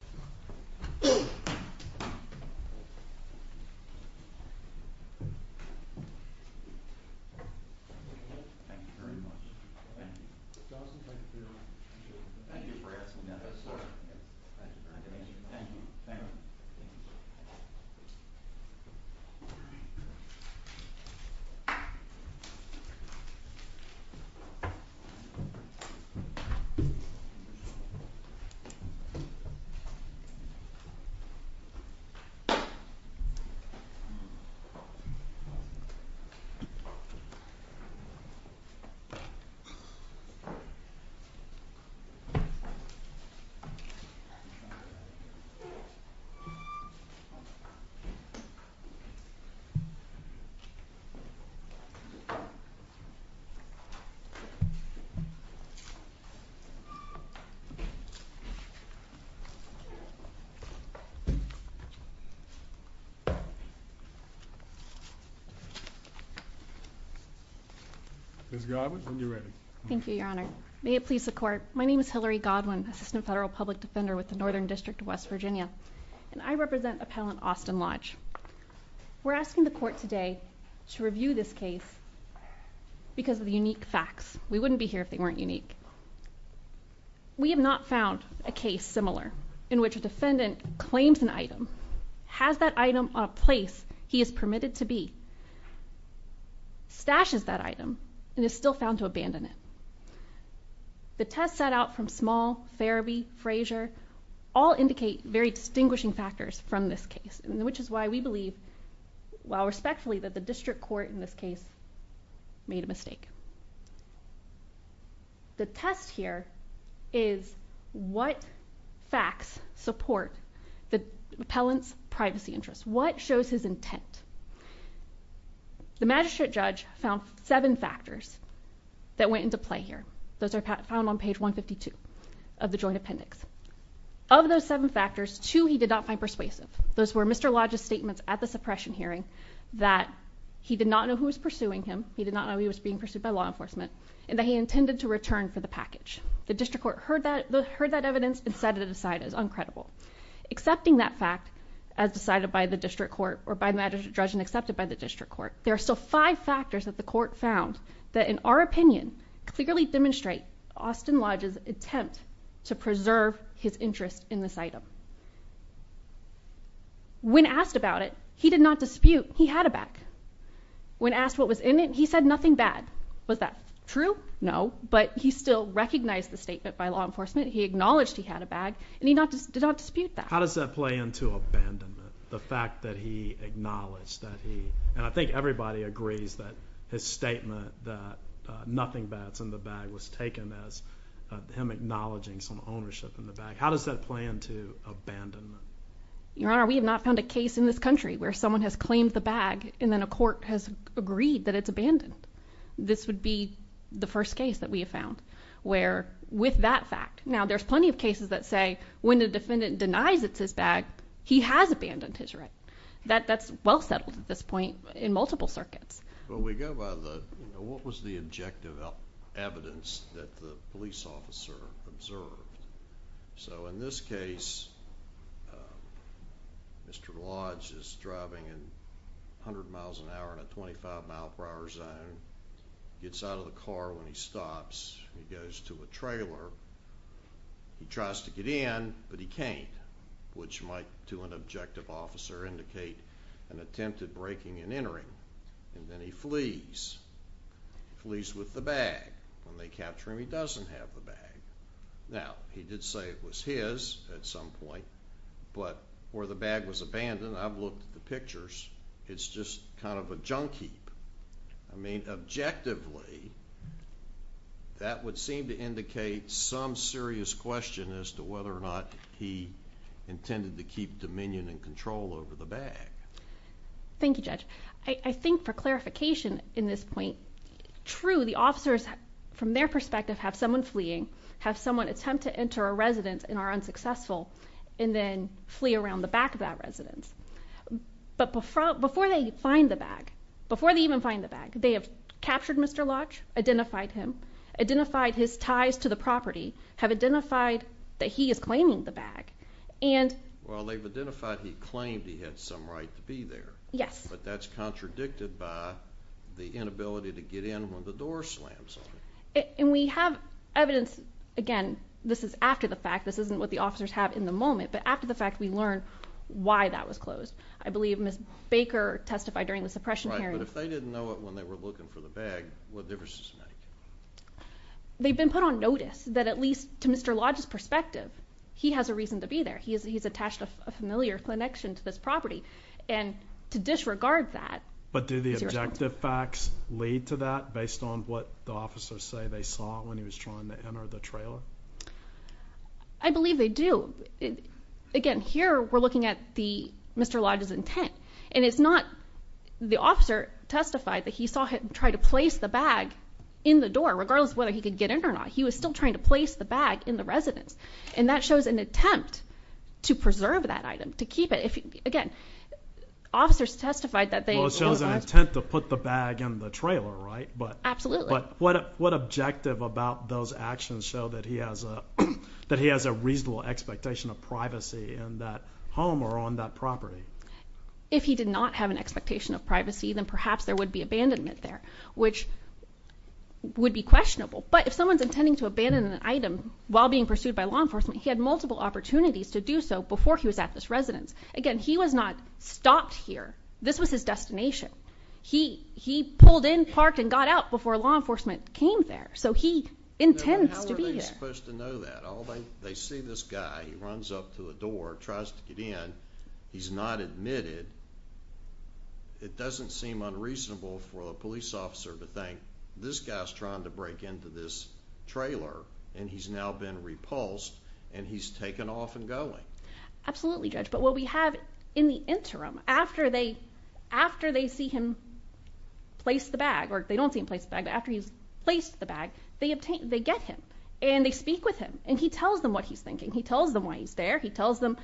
Thank you very much. Thank you. Thank you for asking that question. Thank you. Thank you. Thank you. Thank you. Thank you. Thank you. Thank you. Thank you. Thank you. Thank you. Thank you. Ms. Godwin, when you're ready. Thank you, Your Honor. May it please the court, my name is Hillary Godwin, Assistant Federal Public Defender with the Northern District of West Virginia. And I represent Appellant Austin Lodge. We're asking the court today to review this case because of the unique facts. We wouldn't be here if they weren't unique. We have not found a case similar in which a defendant claims an item, has that item on a place he is permitted to be, stashes that item, and is still found to abandon it. The tests set out from Small, Farabee, Frazier, all indicate very distinguishing factors from this case, which is why we believe, while respectfully, that the district court in this case made a mistake. The test here is what facts support the appellant's privacy interests? What shows his intent? The magistrate judge found seven factors that went into play here. Those are found on page 152 of the joint appendix. Of those seven factors, two he did not find persuasive. Those were Mr. Lodge's statements at the suppression hearing that he did not know who was pursuing him, he did not know he was being pursued by law enforcement, and that he intended to return for the package. The district court heard that evidence and set it aside as uncredible. Accepting that fact, as decided by the district court, or by the magistrate judge and accepted by the district court, there are still five factors that the court found that, in our opinion, clearly demonstrate Austin Lodge's attempt to preserve his interest in this item. When asked about it, he did not dispute he had a bag. When asked what was in it, he said nothing bad. Was that true? No. But he still recognized the statement by law enforcement. He acknowledged he had a bag, and he did not dispute that. How does that play into abandonment? The fact that he acknowledged that he, and I think everybody agrees that his statement that nothing bad is in the bag was taken as him acknowledging some ownership in the bag. How does that play into abandonment? Your Honor, we have not found a case in this country where someone has claimed the bag and then a court has agreed that it's abandoned. This would be the first case that we have found where, with that fact... Now, there's plenty of cases that say when the defendant denies it's his bag, he has abandoned his right. That's well settled at this point in multiple circuits. Well, we go by the... What was the objective evidence that the police officer observed? So in this case, Mr. Lodge is driving at 100 miles an hour in a 25 mile per hour zone. He gets out of the car when he stops, he goes to a trailer, he tries to get in, but he can't, which might, to an objective officer, indicate an attempt at breaking and entering, and then he flees. He flees with the bag. When they capture him, he doesn't have the bag. Now, he did say it was his at some point, but where the bag was abandoned, I've looked at the pictures, it's just kind of a junk heap. I mean, objectively, that would seem to indicate some serious question as to whether or not he intended to keep dominion and control over the bag. Thank you, Judge. I think for clarification in this point, true, the officers, from their perspective, have someone fleeing, have someone attempt to enter a residence and are unsuccessful, and then flee around the back of that residence. But before they find the bag, before they even find the bag, they have captured Mr. Lodge, identified him, identified his ties to the property, have identified that he is claiming the bag, and... Well, they've identified he claimed he had some right to be there, but that's contradicted by the inability to get in when the door slams on him. And we have evidence, again, this is after the fact, this isn't what the officers have in the moment, but after the fact, we learned why that was closed. I believe Ms. Baker testified during the suppression hearing. Right, but if they didn't know it when they were looking for the bag, what difference does it make? They've been put on notice that at least, to Mr. Lodge's perspective, he has a reason to be there. He's attached a familiar connection to this property, and to disregard that... But do the objective facts lead to that, based on what the officers say they saw when he was trying to enter the trailer? I believe they do. Again, here we're looking at Mr. Lodge's intent, and it's not... The officer testified that he saw him try to place the bag in the door, regardless of whether he could get in or not. He was still trying to place the bag in the residence, and that shows an attempt to preserve that item, to keep it. Again, officers testified that they... Well, it shows an intent to put the bag in the trailer, right? Absolutely. But what objective about those actions show that he has a reasonable expectation of privacy in that home, or on that property? If he did not have an expectation of privacy, then perhaps there would be abandonment there, which would be questionable. But if someone's intending to abandon an item while being pursued by law enforcement, he had multiple opportunities to do so before he was at this residence. Again, he was not stopped here. This was his destination. He pulled in, parked, and got out before law enforcement came there. So he intends to be here. How are they supposed to know that? They see this guy, he runs up to the door, tries to get in, he's not admitted. It doesn't seem unreasonable for a police officer to think, this guy's trying to break into this trailer, and he's now been repulsed, and he's taken off and going. Absolutely, Judge. But what we have in the interim, after they see him place the bag, or they don't see him place the bag, but after he's placed the bag, they get him. And they speak with him. And he tells them what he's thinking. He tells them why he's there. He tells them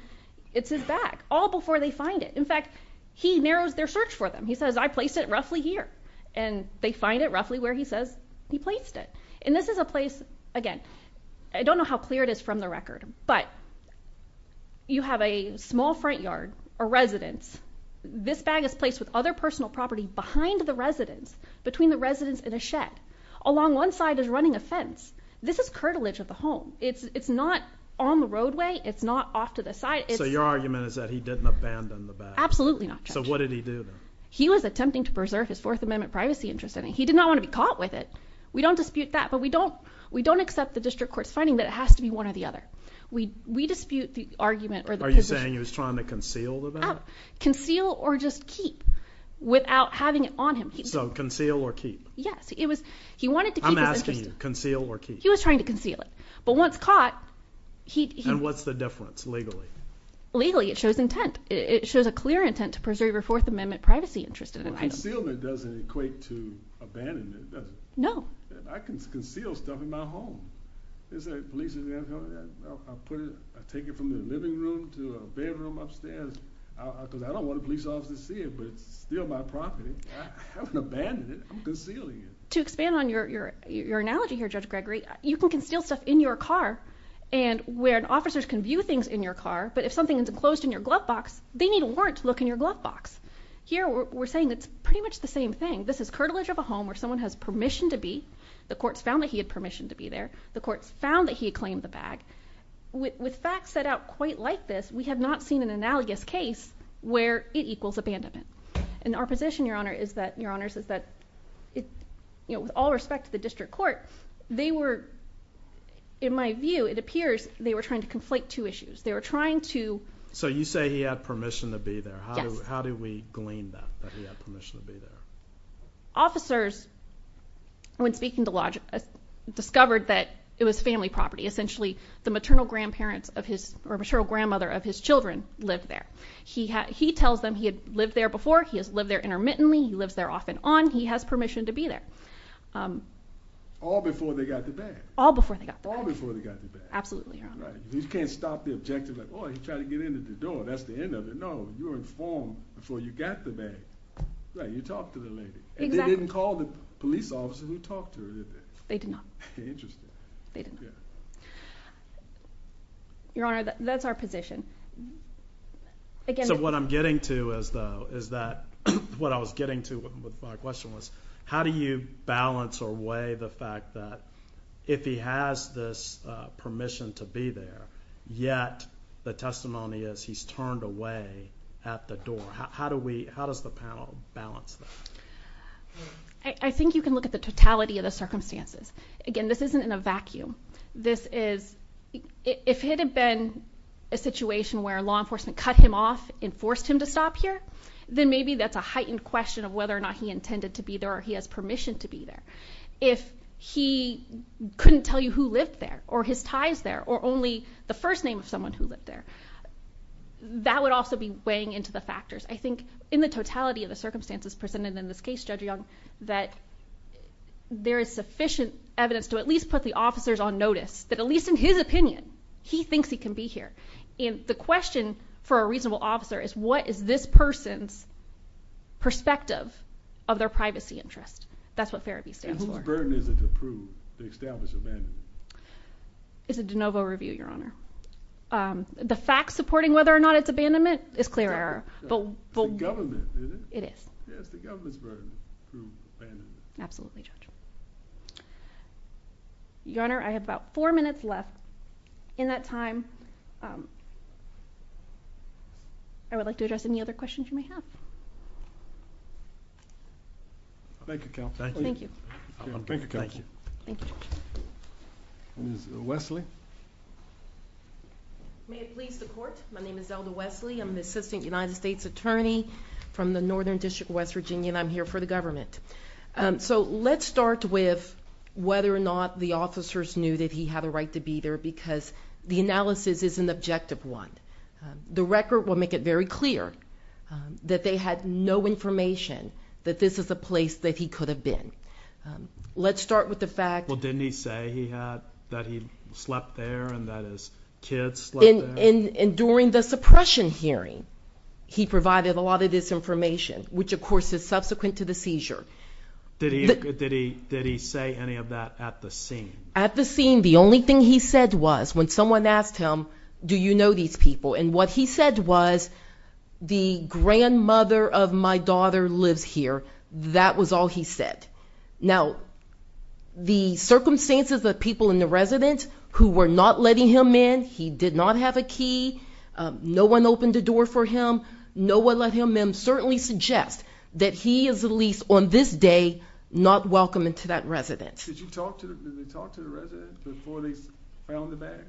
it's his bag. All before they find it. In fact, he narrows their search for them. He says, I placed it roughly here. And they find it roughly where he says he placed it. And this is a place, again, I don't know how clear it is from the record, but you have a small front yard, a residence. This bag is placed with other personal property behind the residence, between the residence and a shed. Along one side is running a fence. This is curtilage of the home. It's not on the roadway. It's not off to the side. So your argument is that he didn't abandon the bag? Absolutely not, Judge. So what did he do then? He was attempting to preserve his Fourth Amendment privacy interest. He did not want to be caught with it. We don't dispute that. But we don't accept the district court's finding that it has to be one or the other. We dispute the argument. Are you saying he was trying to conceal the bag? Conceal or just keep without having it on him. So conceal or keep? Yes. He wanted to keep his interest. I'm asking you. Conceal or keep? He was trying to conceal it. But once caught... And what's the difference legally? Legally, it shows intent. It shows a clear intent to preserve your Fourth Amendment privacy interest. Well, concealment doesn't equate to abandonment, does it? No. I can conceal stuff in my home. I take it from the living room to a bedroom upstairs. Because I don't want the police officers to see it, but it's still my property. I haven't abandoned it. I'm concealing it. To expand on your analogy here, Judge Gregory, you can conceal stuff in your car, and where it's enclosed in your glove box, they need a warrant to look in your glove box. Here we're saying it's pretty much the same thing. This is curtilage of a home where someone has permission to be. The court's found that he had permission to be there. The court's found that he claimed the bag. With facts set out quite like this, we have not seen an analogous case where it equals abandonment. And our position, Your Honor, is that with all respect to the district court, they were, in my view, it appears they were trying to conflate two issues. They were trying to- So you say he had permission to be there. Yes. How do we glean that, that he had permission to be there? Officers, when speaking to Lodge, discovered that it was family property. Essentially, the maternal grandparents of his, or maternal grandmother of his children lived there. He tells them he had lived there before, he has lived there intermittently, he lives there off and on, he has permission to be there. All before they got the bag. All before they got the bag. All before they got the bag. Absolutely, Your Honor. Right. You can't stop the objective of, oh, he tried to get into the door, that's the end of it. No, you were informed before you got the bag. Right, you talked to the lady. Exactly. And they didn't call the police officer who talked to her, did they? They did not. Interesting. They did not. Yeah. Your Honor, that's our position. Again- So what I'm getting to is that, what I was getting to with my question was, how do you balance or weigh the fact that if he has this permission to be there, yet the testimony is he's turned away at the door. How do we, how does the panel balance that? I think you can look at the totality of the circumstances. Again, this isn't in a vacuum. This is, if it had been a situation where law enforcement cut him off and forced him to stop here, then maybe that's a heightened question of whether or not he intended to be there, or he has permission to be there. If he couldn't tell you who lived there, or his tie is there, or only the first name of someone who lived there, that would also be weighing into the factors. I think in the totality of the circumstances presented in this case, Judge Young, that there is sufficient evidence to at least put the officers on notice, that at least in his opinion, he thinks he can be here. And the question for a reasonable officer is, what is this person's perspective of their privacy interest? That's what Fair Abuse stands for. And whose burden is it to prove, to establish abandonment? It's a De Novo review, Your Honor. The fact supporting whether or not it's abandonment is clear error, but the... It's the government, isn't it? It is. Yeah, it's the government's burden to prove abandonment. Absolutely, Judge. Your Honor, I have about four minutes left. In that time, I would like to address any other questions you may have. Thank you, Counselor. Thank you. Thank you, Counselor. Thank you. Ms. Wesley? May it please the Court. My name is Zelda Wesley. I'm the Assistant United States Attorney from the Northern District of West Virginia, and I'm here for the government. So let's start with whether or not the officers knew that he had a right to be there, because the analysis is an objective one. The record will make it very clear that they had no information that this is a place that he could have been. Let's start with the fact... Well, didn't he say that he slept there and that his kids slept there? And during the suppression hearing, he provided a lot of this information, which of course is subsequent to the seizure. Did he say any of that at the scene? At the scene. The only thing he said was, when someone asked him, do you know these people? And what he said was, the grandmother of my daughter lives here. That was all he said. Now, the circumstances of people in the residence who were not letting him in, he did not have a key, no one opened the door for him, no one let him in, certainly suggests that he is at least on this day not welcome into that residence. Did they talk to the resident before they found the bag?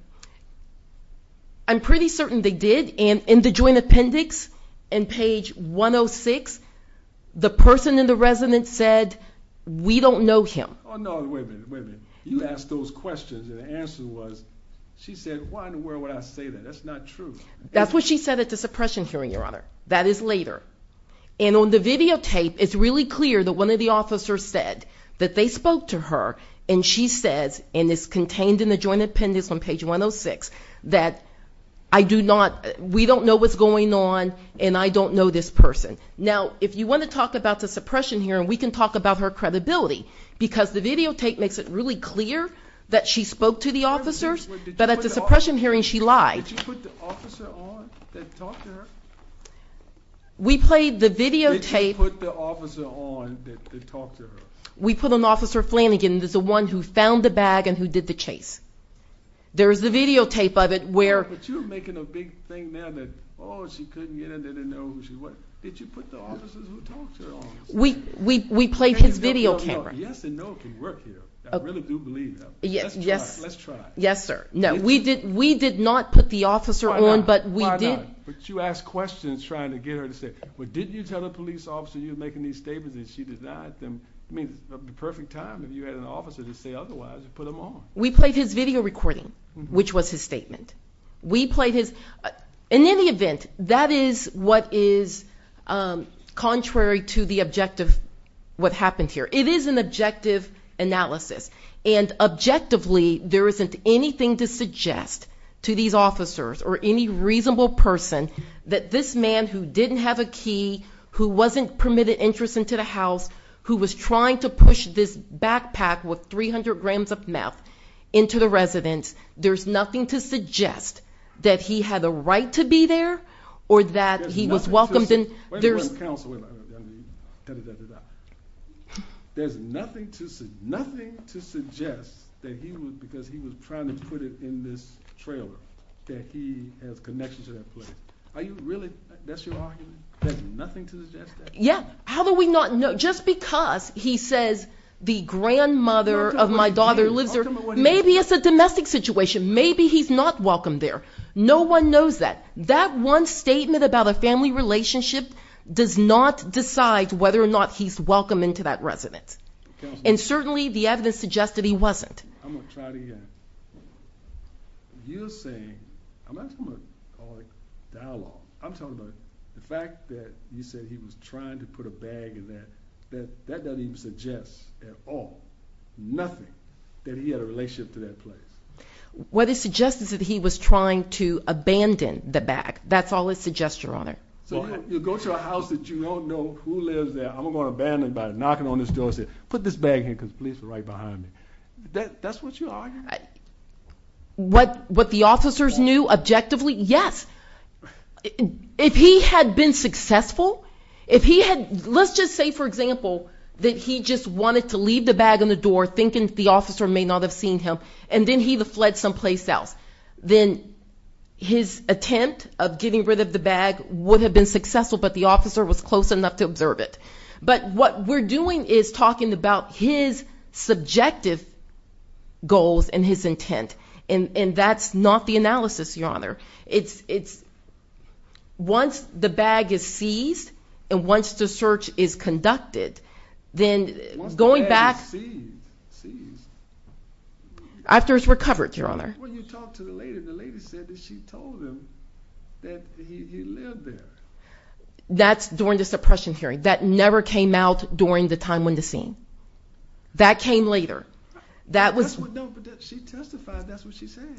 I'm pretty certain they did. In the joint appendix, in page 106, the person in the residence said, we don't know him. Oh no, wait a minute, wait a minute. You asked those questions and the answer was, she said, why in the world would I say that? That's not true. That's what she said at the suppression hearing, Your Honor. That is later. And on the videotape, it's really clear that one of the officers said that they spoke to her and she says, and it's contained in the joint appendix on page 106, that I do not, we don't know what's going on and I don't know this person. Now, if you want to talk about the suppression hearing, we can talk about her credibility because the videotape makes it really clear that she spoke to the officers, but at the suppression hearing, she lied. Did you put the officer on that talked to her? We played the videotape. Did you put the officer on that talked to her? We put an officer, Flanagan, who's the one who found the bag and who did the chase. There's the videotape of it where... But you're making a big thing now that, oh, she couldn't get in there to know who she was. Did you put the officers who talked to her on it? We played his video camera. Yes and no can work here. I really do believe that. Yes. Let's try it. Let's try it. Yes, sir. No, we did not put the officer on, but we did... But you asked questions trying to get her to say, well, didn't you tell the police officer you were making these statements and she denied them? I mean, it's the perfect time if you had an officer to say otherwise and put them on. We played his video recording, which was his statement. We played his... In any event, that is what is contrary to the objective, what happened here. It is an objective analysis and objectively, there isn't anything to suggest to these officers or any reasonable person that this man who didn't have a key, who wasn't permitted entrance into the house, who was trying to push this backpack with 300 grams of meth into the residence, there's nothing to suggest that he had the right to be there or that he was welcomed in. There's nothing to... Wait a minute, counsel. Wait a minute. There's nothing to suggest that he was... Are you really... That's your argument? There's nothing to suggest that? How do we not know? Just because he says, the grandmother of my daughter lives there, maybe it's a domestic situation, maybe he's not welcomed there. No one knows that. That one statement about a family relationship does not decide whether or not he's welcome into that residence. And certainly, the evidence suggested he wasn't. I'm gonna try it again. You're saying... I'm not talking about dialogue. I'm talking about the fact that you said he was trying to put a bag in that. That doesn't even suggest at all, nothing, that he had a relationship to that place. What it suggests is that he was trying to abandon the bag. That's all it suggests, Your Honor. So you go to a house that you don't know who lives there, I'm gonna abandon it by knocking on this door and say, put this bag here, because the police are right behind me. That's what you're arguing? What the officers knew objectively, yes. If he had been successful, if he had... Let's just say, for example, that he just wanted to leave the bag on the door, thinking the officer may not have seen him, and then he fled someplace else. Then his attempt of getting rid of the bag would have been successful, but the officer was close enough to observe it. But what we're doing is talking about his subjective goals and his intent, and that's not the analysis, Your Honor. It's... Once the bag is seized, and once the search is conducted, then going back... Once the bag is seized... After it's recovered, Your Honor. When you talked to the lady, the lady said that she told him that he lived there. That's during the suppression hearing. That never came out during the time when the scene. That came later. That was... That's what... No, but she testified. That's what she said.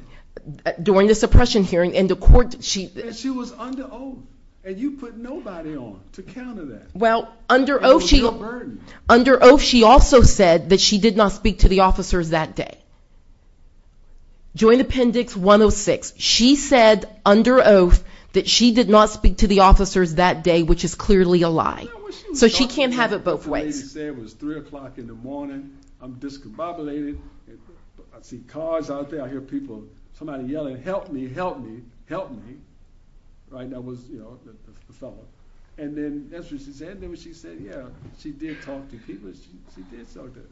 During the suppression hearing in the court, she... And she was under oath, and you put nobody on to counter that. Well, under oath, she... It was no burden. Under oath, she also said that she did not speak to the officers that day. Joint Appendix 106. She said, under oath, that she did not speak to the officers that day, which is clearly a lie. So she can't have it both ways. The lady said it was 3 o'clock in the morning. I'm discombobulated. I see cars out there. I hear people... Somebody yelling, help me, help me, help me. Right? That was, you know, the fellow. And then, that's what she said. Then when she said, yeah, she did talk to people. She did talk to...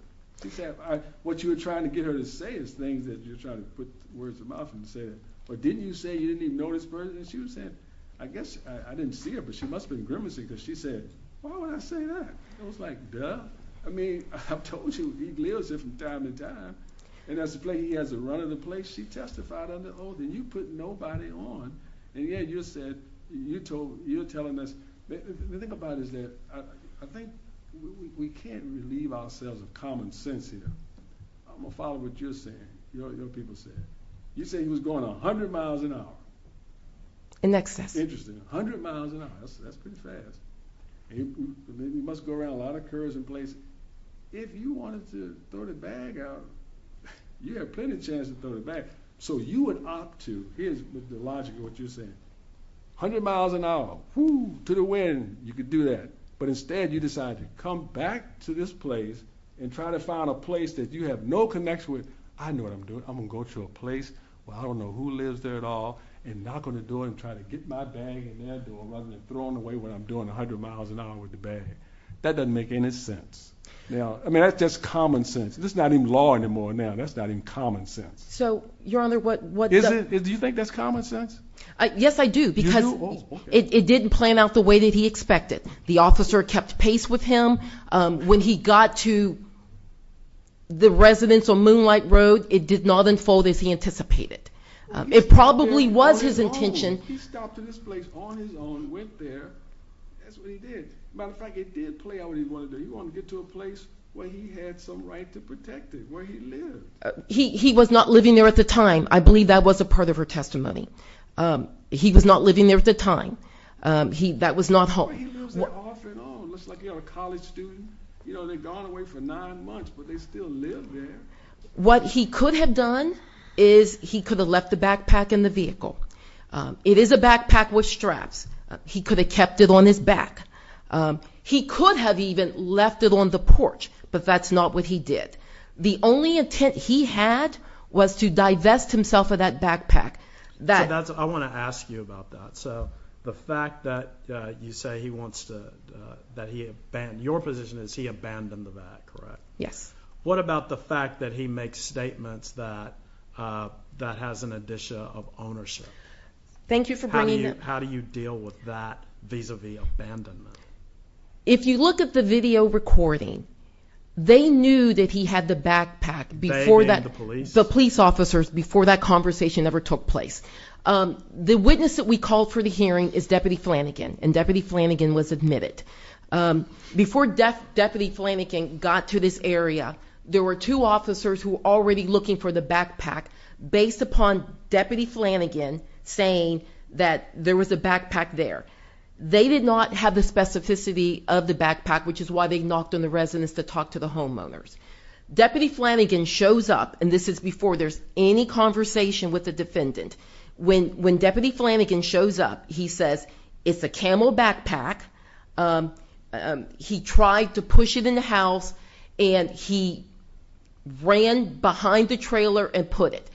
She said, what you were trying to get her to say is things that you're trying to put words in her mouth and say it. But didn't you say you didn't even know this person? And she said, I guess I didn't see her, but she must have been grimacing because she said, why would I say that? I was like, duh. I mean, I've told you, he lives there from time to time. And as to play, he has a run of the place. She testified under oath. And you put nobody on. And yet, you said, you told... You're telling us... The thing about it is that I think we can't relieve ourselves of common sense here. I'm going to follow what you're saying, what other people said. You said he was going 100 miles an hour. In excess. Interesting. 100 miles an hour. That's pretty fast. He must go around a lot of curves and places. If you wanted to throw the bag out, you had plenty of chances to throw the bag. So, you would opt to... Here's the logic of what you're saying. 100 miles an hour, whoo, to the wind. You could do that. But instead, you decided to come back to this place and try to find a place that you have no connection with. I know what I'm doing. I'm going to go to a place where I don't know who lives there at all and knock on the door and try to get my bag in their door rather than throwing away what I'm doing 100 miles an hour with the bag. That doesn't make any sense. I mean, that's just common sense. It's not even law anymore now. That's not even common sense. So, Your Honor, what... Do you think that's common sense? Yes, I do. Because it didn't plan out the way that he expected. The officer kept pace with him. When he got to the residence on Moonlight Road, it did not unfold as he anticipated. It probably was his intention. He stopped at this place on his own, went there. That's what he did. Matter of fact, it did play out what he wanted to do. He wanted to get to a place where he had some right to protect it, where he lived. He was not living there at the time. I believe that was a part of her testimony. He was not living there at the time. That was not home. What he could have done is he could have left the backpack in the vehicle. It is a backpack with straps. He could have kept it on his back. He could have even left it on the porch, but that's not what he did. The only intent he had was to divest himself of that backpack. I want to ask you about that. The fact that you say he wants to abandon, your position is he abandoned that, correct? Yes. What about the fact that he makes statements that has an addition of ownership? Thank you for bringing that up. How do you deal with that vis-à-vis abandonment? If you look at the video recording, they knew that he had the backpack before that. They, meaning the police? The police officers, before that conversation ever took place. The witness that we called for the hearing is Deputy Flanagan, and Deputy Flanagan was admitted. Before Deputy Flanagan got to this area, there were two officers who were already looking for the backpack based upon Deputy Flanagan saying that there was a backpack there. They did not have the specificity of the backpack, which is why they knocked on the residence to talk to the homeowners. Deputy Flanagan shows up, and this is before there's any conversation with the defendant. When Deputy Flanagan shows up, he says it's a Camel backpack. He tried to push it in the house, and he ran behind the trailer and put it.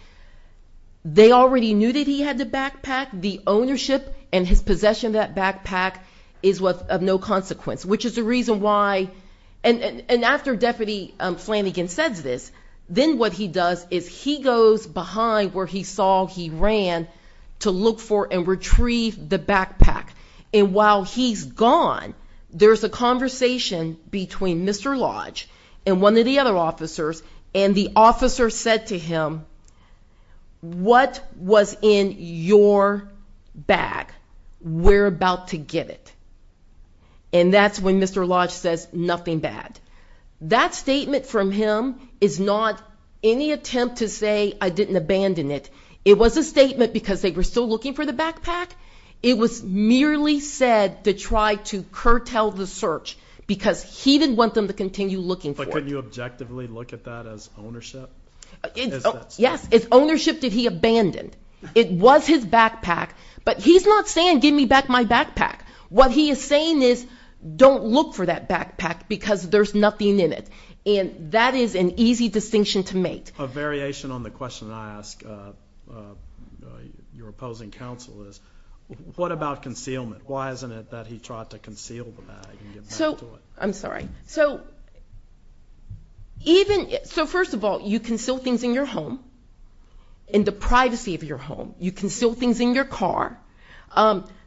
They already knew that he had the backpack. The ownership and his possession of that backpack is of no consequence, which is the reason why. And after Deputy Flanagan says this, then what he does is he goes behind where he saw he ran to look for and retrieve the backpack. And while he's gone, there's a conversation between Mr. Lodge and one of the other officers, and the officer said to him, what was in your bag? We're about to get it. And that's when Mr. Lodge says, nothing bad. That statement from him is not any attempt to say I didn't abandon it. It was a statement because they were still looking for the backpack. It was merely said to try to curtail the search because he didn't want them to continue looking for it. But could you objectively look at that as ownership? Yes, it's ownership that he abandoned. It was his backpack, but he's not saying give me back my backpack. What he is saying is don't look for that backpack because there's nothing in it. And that is an easy distinction to make. A variation on the question I ask your opposing counsel is what about concealment? Why isn't it that he tried to conceal the bag and get back to it? I'm sorry. So, first of all, you conceal things in your home, in the privacy of your home. You conceal things in your car.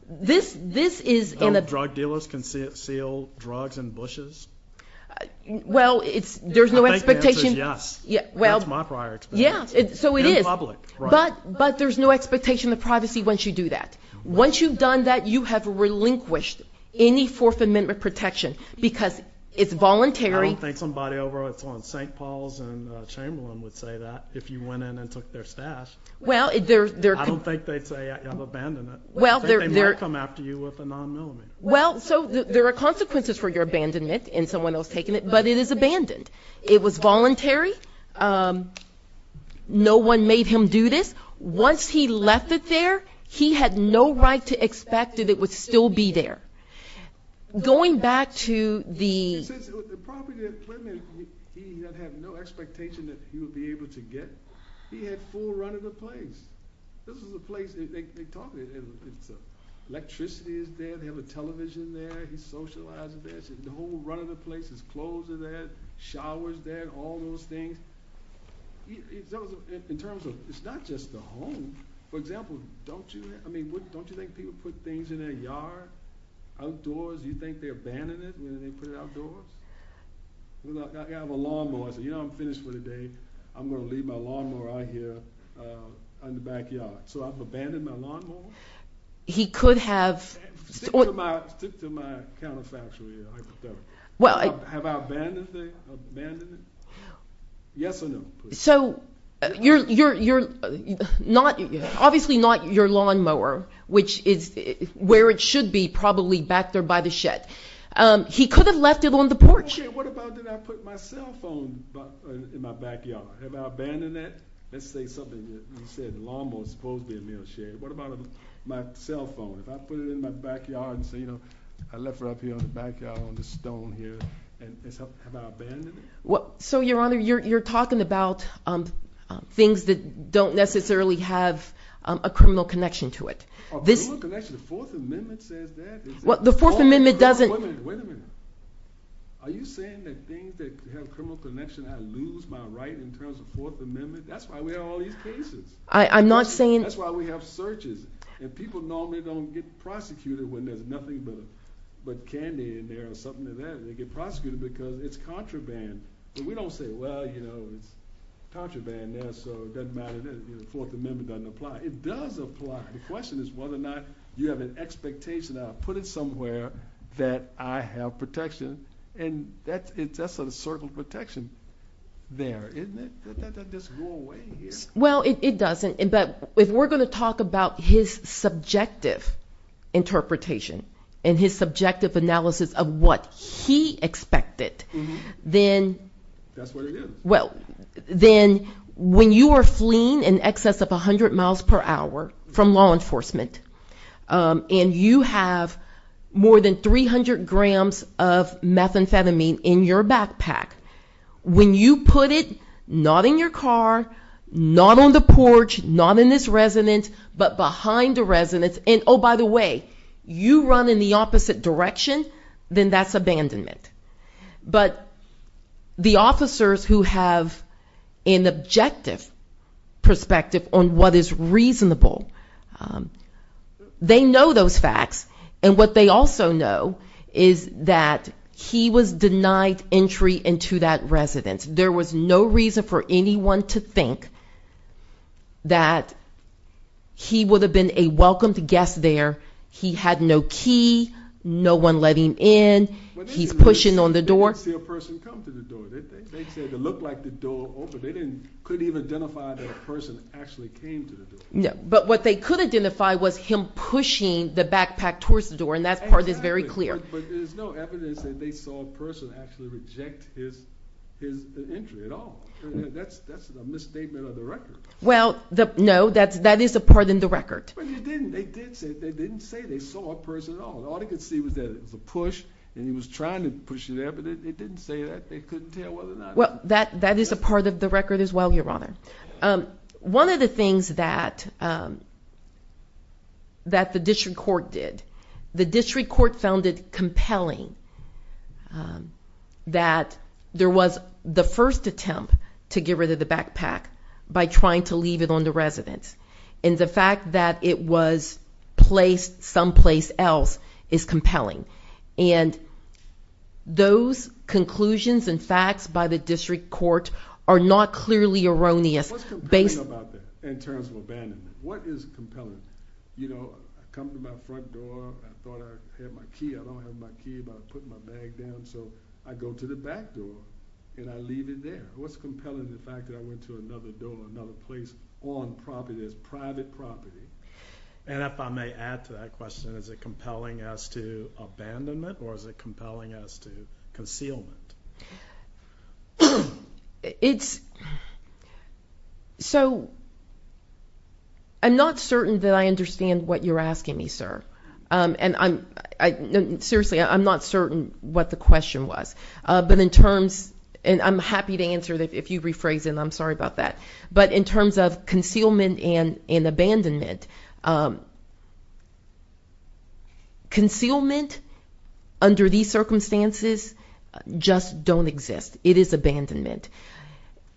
This is in the- Drug dealers conceal drugs in bushes? Well, there's no expectation- I think the answer is yes. That's my prior experience. Yeah, so it is. In public, right. But there's no expectation of privacy once you do that. Once you've done that, you have relinquished any Fourth Amendment protection because it's voluntary- I don't think somebody over at St. Paul's in Chamberlain would say that if you went in and took their stash. I don't think they'd say I've abandoned it. They might come after you with a non-millimeter. Well, so there are consequences for your abandonment in someone else taking it, but it is abandoned. It was voluntary. No one made him do this. Once he left it there, he had no right to expect that it would still be there. Going back to the- Since the property that Clinton had, he had no expectation that he would be able to get. He had full run of the place. This is a place that they talk about. Electricity is there. They have a television there. He's socializing there. The whole run of the place. His clothes are there. Shower's there. All those things. In terms of it's not just the home. For example, don't you think people put things in their yard? Outdoors? You think they abandon it when they put it outdoors? I have a lawnmower. I say, you know, I'm finished for the day. I'm going to leave my lawnmower out here in the backyard. So I've abandoned my lawnmower? He could have- Stick to my counterfactual here. Have I abandoned it? Yes or no? So you're not, obviously not your lawnmower, which is where it should be, probably back there by the shed. He could have left it on the porch. What about did I put my cell phone in my backyard? Have I abandoned it? Let's say something. You said the lawnmower is supposed to be in the shed. What about my cell phone? If I put it in my backyard and say, you know, I left it up here in the backyard on the stone here, have I abandoned it? So, Your Honor, you're talking about things that don't necessarily have a criminal connection to it. A criminal connection? The Fourth Amendment says that. The Fourth Amendment doesn't- Wait a minute. Wait a minute. Are you saying that things that have criminal connection, I lose my right in terms of Fourth Amendment? That's why we have all these cases. I'm not saying- That's why we have searches. And people normally don't get prosecuted when there's nothing but candy in there or something like that. They get prosecuted because it's contraband. But we don't say, well, you know, it's contraband there, so it doesn't matter. The Fourth Amendment doesn't apply. It does apply. The question is whether or not you have an expectation of, put it somewhere that I have protection. And that's a circle of protection there, isn't it? That doesn't go away here. Well, it doesn't. But if we're going to talk about his subjective interpretation and his subjective analysis of what he expected, then- That's what it is. Well, then when you are fleeing in excess of 100 miles per hour from law enforcement and you have more than 300 grams of methamphetamine in your backpack, when you put it not in your car, not on the porch, not in this residence, but behind a residence, and, oh, by the way, you run in the opposite direction, then that's abandonment. But the officers who have an objective perspective on what is reasonable, they know those facts. And what they also know is that he was denied entry into that residence. There was no reason for anyone to think that he would have been a He had no key, no one letting in, he's pushing on the door. They didn't see a person come through the door, did they? They said it looked like the door opened. They couldn't even identify that a person actually came through the door. But what they could identify was him pushing the backpack towards the door, and that part is very clear. But there's no evidence that they saw a person actually reject his entry at all. That's a misstatement of the record. Well, no, that is a part in the record. But they didn't. They didn't say they saw a person at all. All they could see was that it was a push, and he was trying to push it there, but they didn't say that. They couldn't tell whether or not. Well, that is a part of the record as well, Your Honor. One of the things that the district court did, the district court found it compelling that there was the first attempt to get rid of the backpack by trying to leave it on the residence. And the fact that it was placed someplace else is compelling. And those conclusions and facts by the district court are not clearly erroneous. What's compelling about that in terms of abandonment? What is compelling? You know, I come to my front door. I thought I had my key. I don't have my key, but I put my bag down, so I go to the back door, and I leave it there. What's compelling is the fact that I went to another door, or another place on property that's private property. And if I may add to that question, is it compelling as to abandonment, or is it compelling as to concealment? It's – so I'm not certain that I understand what you're asking me, sir. Seriously, I'm not certain what the question was. But in terms – and I'm happy to answer if you rephrase it, and I'm sorry about that. But in terms of concealment and abandonment, concealment under these circumstances just don't exist. It is abandonment.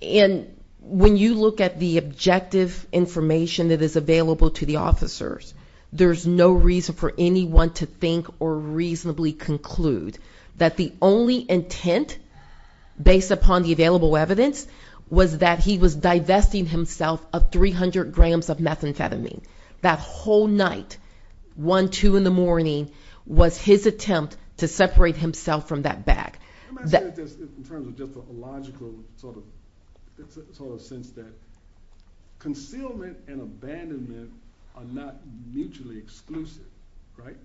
And when you look at the objective information that is available to the officers, there's no reason for anyone to think or reasonably conclude that the only intent, based upon the available evidence, was that he was divesting himself of 300 grams of methamphetamine. That whole night, 1, 2 in the morning, was his attempt to separate himself from that bag. In terms of just a logical sort of sense that concealment and abandonment are not mutually exclusive, right?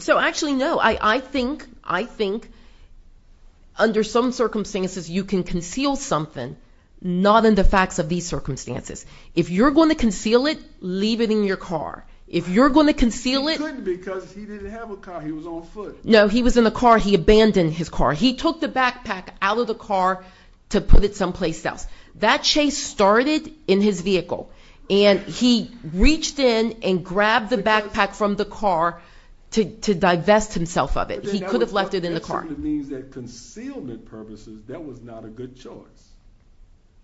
So actually, no. I think under some circumstances you can conceal something, not in the facts of these circumstances. If you're going to conceal it, leave it in your car. If you're going to conceal it – He couldn't because he didn't have a car. He was on foot. No, he was in the car. He abandoned his car. He took the backpack out of the car to put it someplace else. That chase started in his vehicle, and he reached in and grabbed the backpack from the car to divest himself of it. He could have left it in the car. That means that concealment purposes, that was not a good choice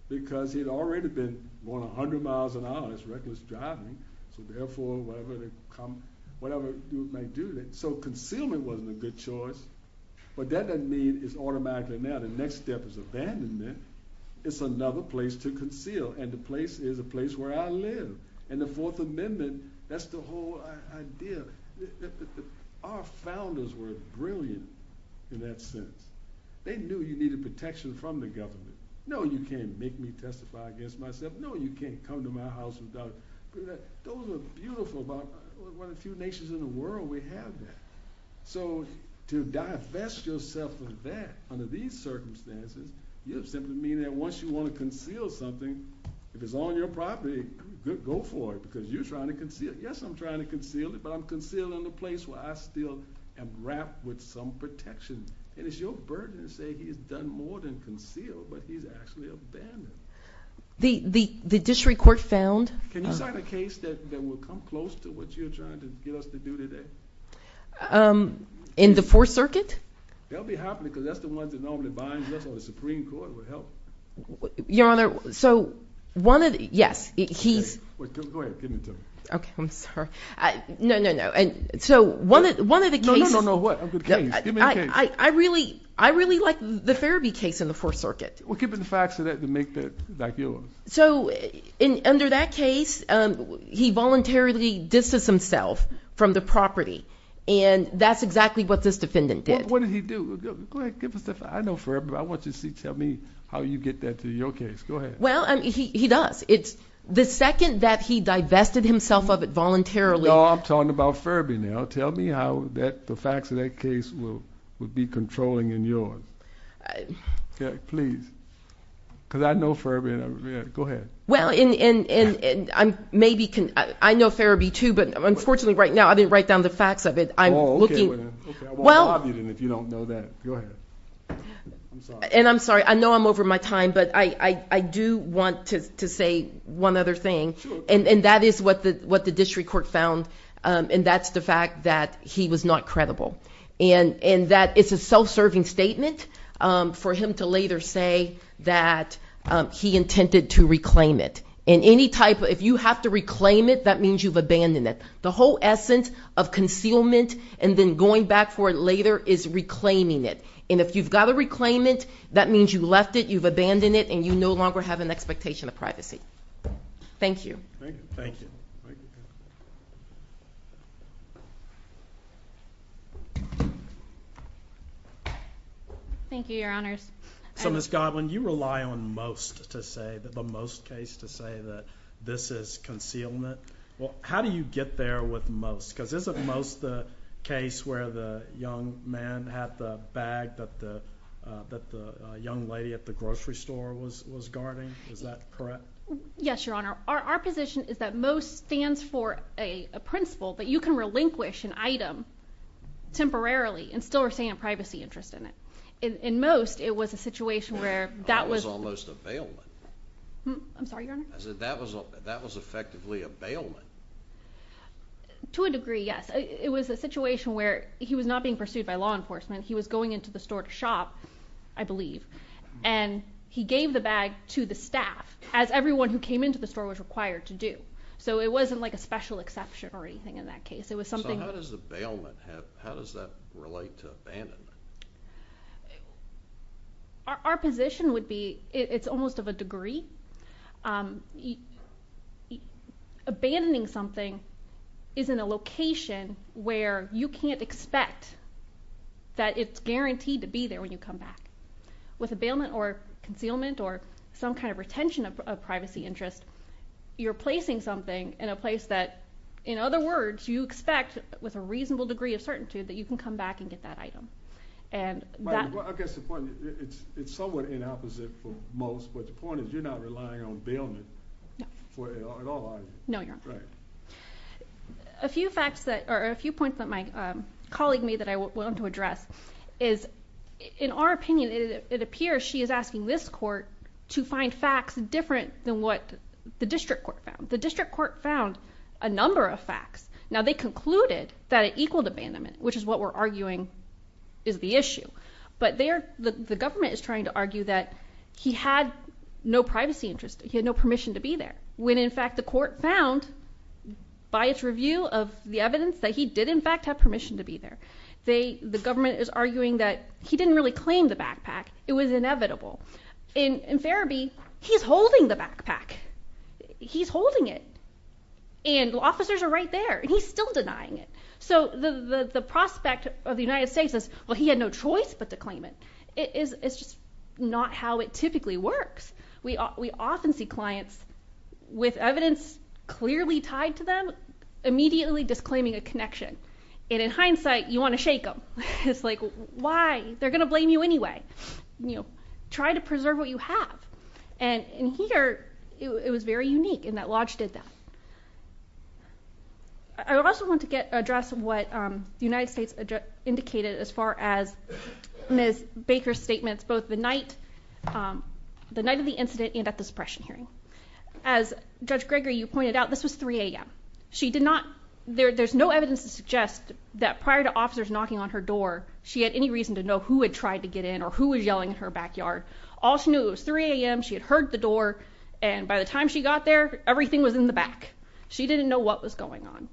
because he had already been going 100 miles an hour. It's reckless driving. So therefore, whatever may do that. So concealment wasn't a good choice, but that doesn't mean it's automatically now. The next step is abandonment. It's another place to conceal, and the place is a place where I live. In the Fourth Amendment, that's the whole idea. Our founders were brilliant in that sense. They knew you needed protection from the government. No, you can't make me testify against myself. No, you can't come to my house without – Those are beautiful. One of the few nations in the world we have that. So to divest yourself of that under these circumstances, you simply mean that once you want to conceal something, if it's on your property, go for it because you're trying to conceal it. Yes, I'm trying to conceal it, but I'm concealing the place where I still am wrapped with some protection. And it's your burden to say he's done more than conceal, but he's actually abandoned. The district court found – Can you cite a case that will come close to what you're trying to get us to do today? In the Fourth Circuit? They'll be happy because that's the one that normally binds us, or the Supreme Court will help. Your Honor, so one of the – yes, he's – Go ahead. Give it to me. Okay. I'm sorry. No, no, no. So one of the cases – No, no, no. What? Give me the case. I really like the Ferebee case in the Fourth Circuit. Well, give me the facts of that to make that yours. So under that case, he voluntarily distanced himself from the property, and that's exactly what this defendant did. What did he do? Go ahead. Give us the facts. I know Ferebee. I want you to tell me how you get that to your case. Go ahead. Well, he does. The second that he divested himself of it voluntarily – No, I'm talking about Ferebee now. Tell me how the facts of that case will be controlling and yours. Please, because I know Ferebee. Go ahead. Well, and maybe – I know Ferebee, too, but unfortunately right now I didn't write down the facts of it. I'm looking – Okay. I won't rob you then if you don't know that. Go ahead. I'm sorry. And I'm sorry. I know I'm over my time, but I do want to say one other thing. Sure. And that is what the district court found, and that's the fact that he was not credible. And that it's a self-serving statement for him to later say that he intended to reclaim it. And any type of – if you have to reclaim it, that means you've abandoned it. The whole essence of concealment and then going back for it later is reclaiming it. And if you've got to reclaim it, that means you left it, you've abandoned it, and you no longer have an expectation of privacy. Thank you. Thank you. Thank you. Thank you, Your Honors. So, Ms. Godwin, you rely on most to say – the most case to say that this is concealment. Well, how do you get there with most? Because isn't most the case where the young man had the bag that the young lady at the grocery store was guarding? Is that correct? Yes, Your Honor. Our position is that most stands for a principle that you can relinquish an item temporarily and still retain a privacy interest in it. In most, it was a situation where that was – That was almost a bailment. I'm sorry, Your Honor? That was effectively a bailment. To a degree, yes. It was a situation where he was not being pursued by law enforcement. He was going into the store to shop, I believe, and he gave the bag to the staff, as everyone who came into the store was required to do. So it wasn't like a special exception or anything in that case. It was something – So how does a bailment have – how does that relate to abandonment? Our position would be it's almost of a degree. Abandoning something is in a location where you can't expect that it's guaranteed to be there when you come back. With a bailment or concealment or some kind of retention of privacy interest, you're placing something in a place that, in other words, you expect with a reasonable degree of certainty that you can come back and get that item. I guess the point is it's somewhat inopposite for most, but the point is you're not relying on bailment for it at all, are you? No, Your Honor. Right. A few facts that – or a few points that my colleague made that I wanted to address is, in our opinion, it appears she is asking this court to find facts different than what the district court found. The district court found a number of facts. Now, they concluded that it equaled abandonment, which is what we're arguing is the issue, but the government is trying to argue that he had no privacy interest, he had no permission to be there, when, in fact, the court found, by its review of the evidence, that he did, in fact, have permission to be there. The government is arguing that he didn't really claim the backpack. It was inevitable. In Farabee, he's holding the backpack. He's holding it. And officers are right there, and he's still denying it. So the prospect of the United States is, well, he had no choice but to claim it. It's just not how it typically works. We often see clients with evidence clearly tied to them immediately disclaiming a connection. And in hindsight, you want to shake them. It's like, why? They're going to blame you anyway. Try to preserve what you have. And here, it was very unique in that Lodge did that. I also want to address what the United States indicated as far as Ms. Baker's statements, both the night of the incident and at the suppression hearing. As Judge Gregory, you pointed out, this was 3 a.m. There's no evidence to suggest that prior to officers knocking on her door, she had any reason to know who had tried to get in or who was yelling in her backyard. All she knew, it was 3 a.m., she had heard the door, and by the time she got there, everything was in the back. She didn't know what was going on.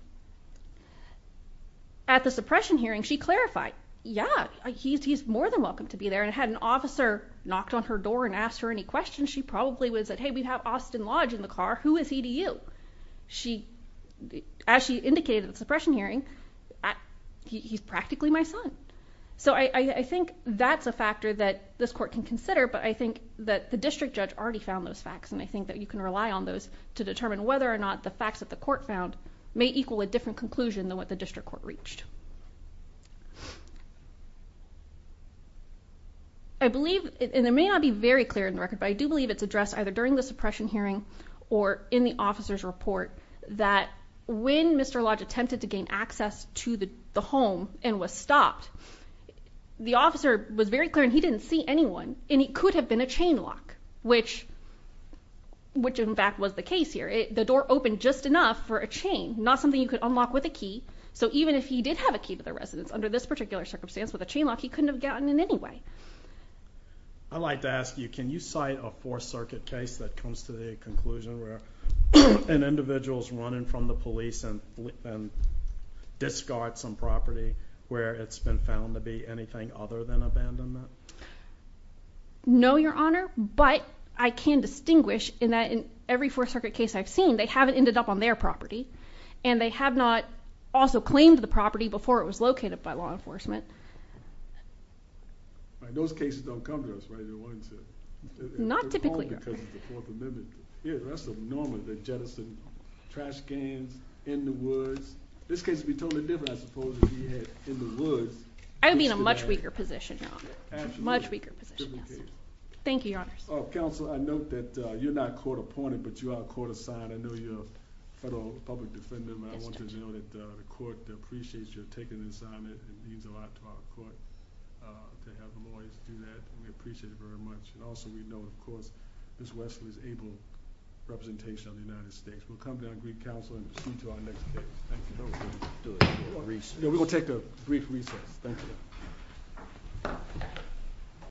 At the suppression hearing, she clarified, yeah, he's more than welcome to be there, and had an officer knocked on her door and asked her any questions, she probably would have said, hey, we have Austin Lodge in the car. Who is he to you? As she indicated at the suppression hearing, he's practically my son. So I think that's a factor that this court can consider, but I think that the district judge already found those facts, and I think that you can rely on those to determine whether or not the facts that the court found may equal a different conclusion than what the district court reached. I believe, and it may not be very clear on the record, but I do believe it's addressed either during the suppression hearing or in the officer's report that when Mr. Lodge attempted to gain access to the home and was stopped, the officer was very clear and he didn't see anyone, and it could have been a chain lock, which in fact was the case here. The door opened just enough for a chain, not something you could unlock with a key, so even if he did have a key to the residence under this particular circumstance with a chain lock, he couldn't have gotten in anyway. I'd like to ask you, can you cite a Fourth Circuit case that comes to the conclusion where an individual is running from the police and discards some property where it's been found to be anything other than abandonment? No, Your Honor, but I can distinguish in that in every Fourth Circuit case I've seen, they haven't ended up on their property, and they have not also claimed the property before it was located by law enforcement. Those cases don't come to us, right? Not typically, Your Honor. Here, that's normal, the jettison, trash cans in the woods. This case would be totally different, I suppose, if he had in the woods. I would be in a much weaker position, Your Honor, much weaker position. Thank you, Your Honors. Counsel, I note that you're not court-appointed, but you are court-assigned. I know you're a federal public defender. I want you to know that the court appreciates your taking this on. It means a lot to our court to have them always do that. We appreciate it very much. Also, we know, of course, Ms. Wesley's able representation of the United States. We'll come to our brief counsel and proceed to our next case. Thank you. We're going to take a brief recess. Thank you.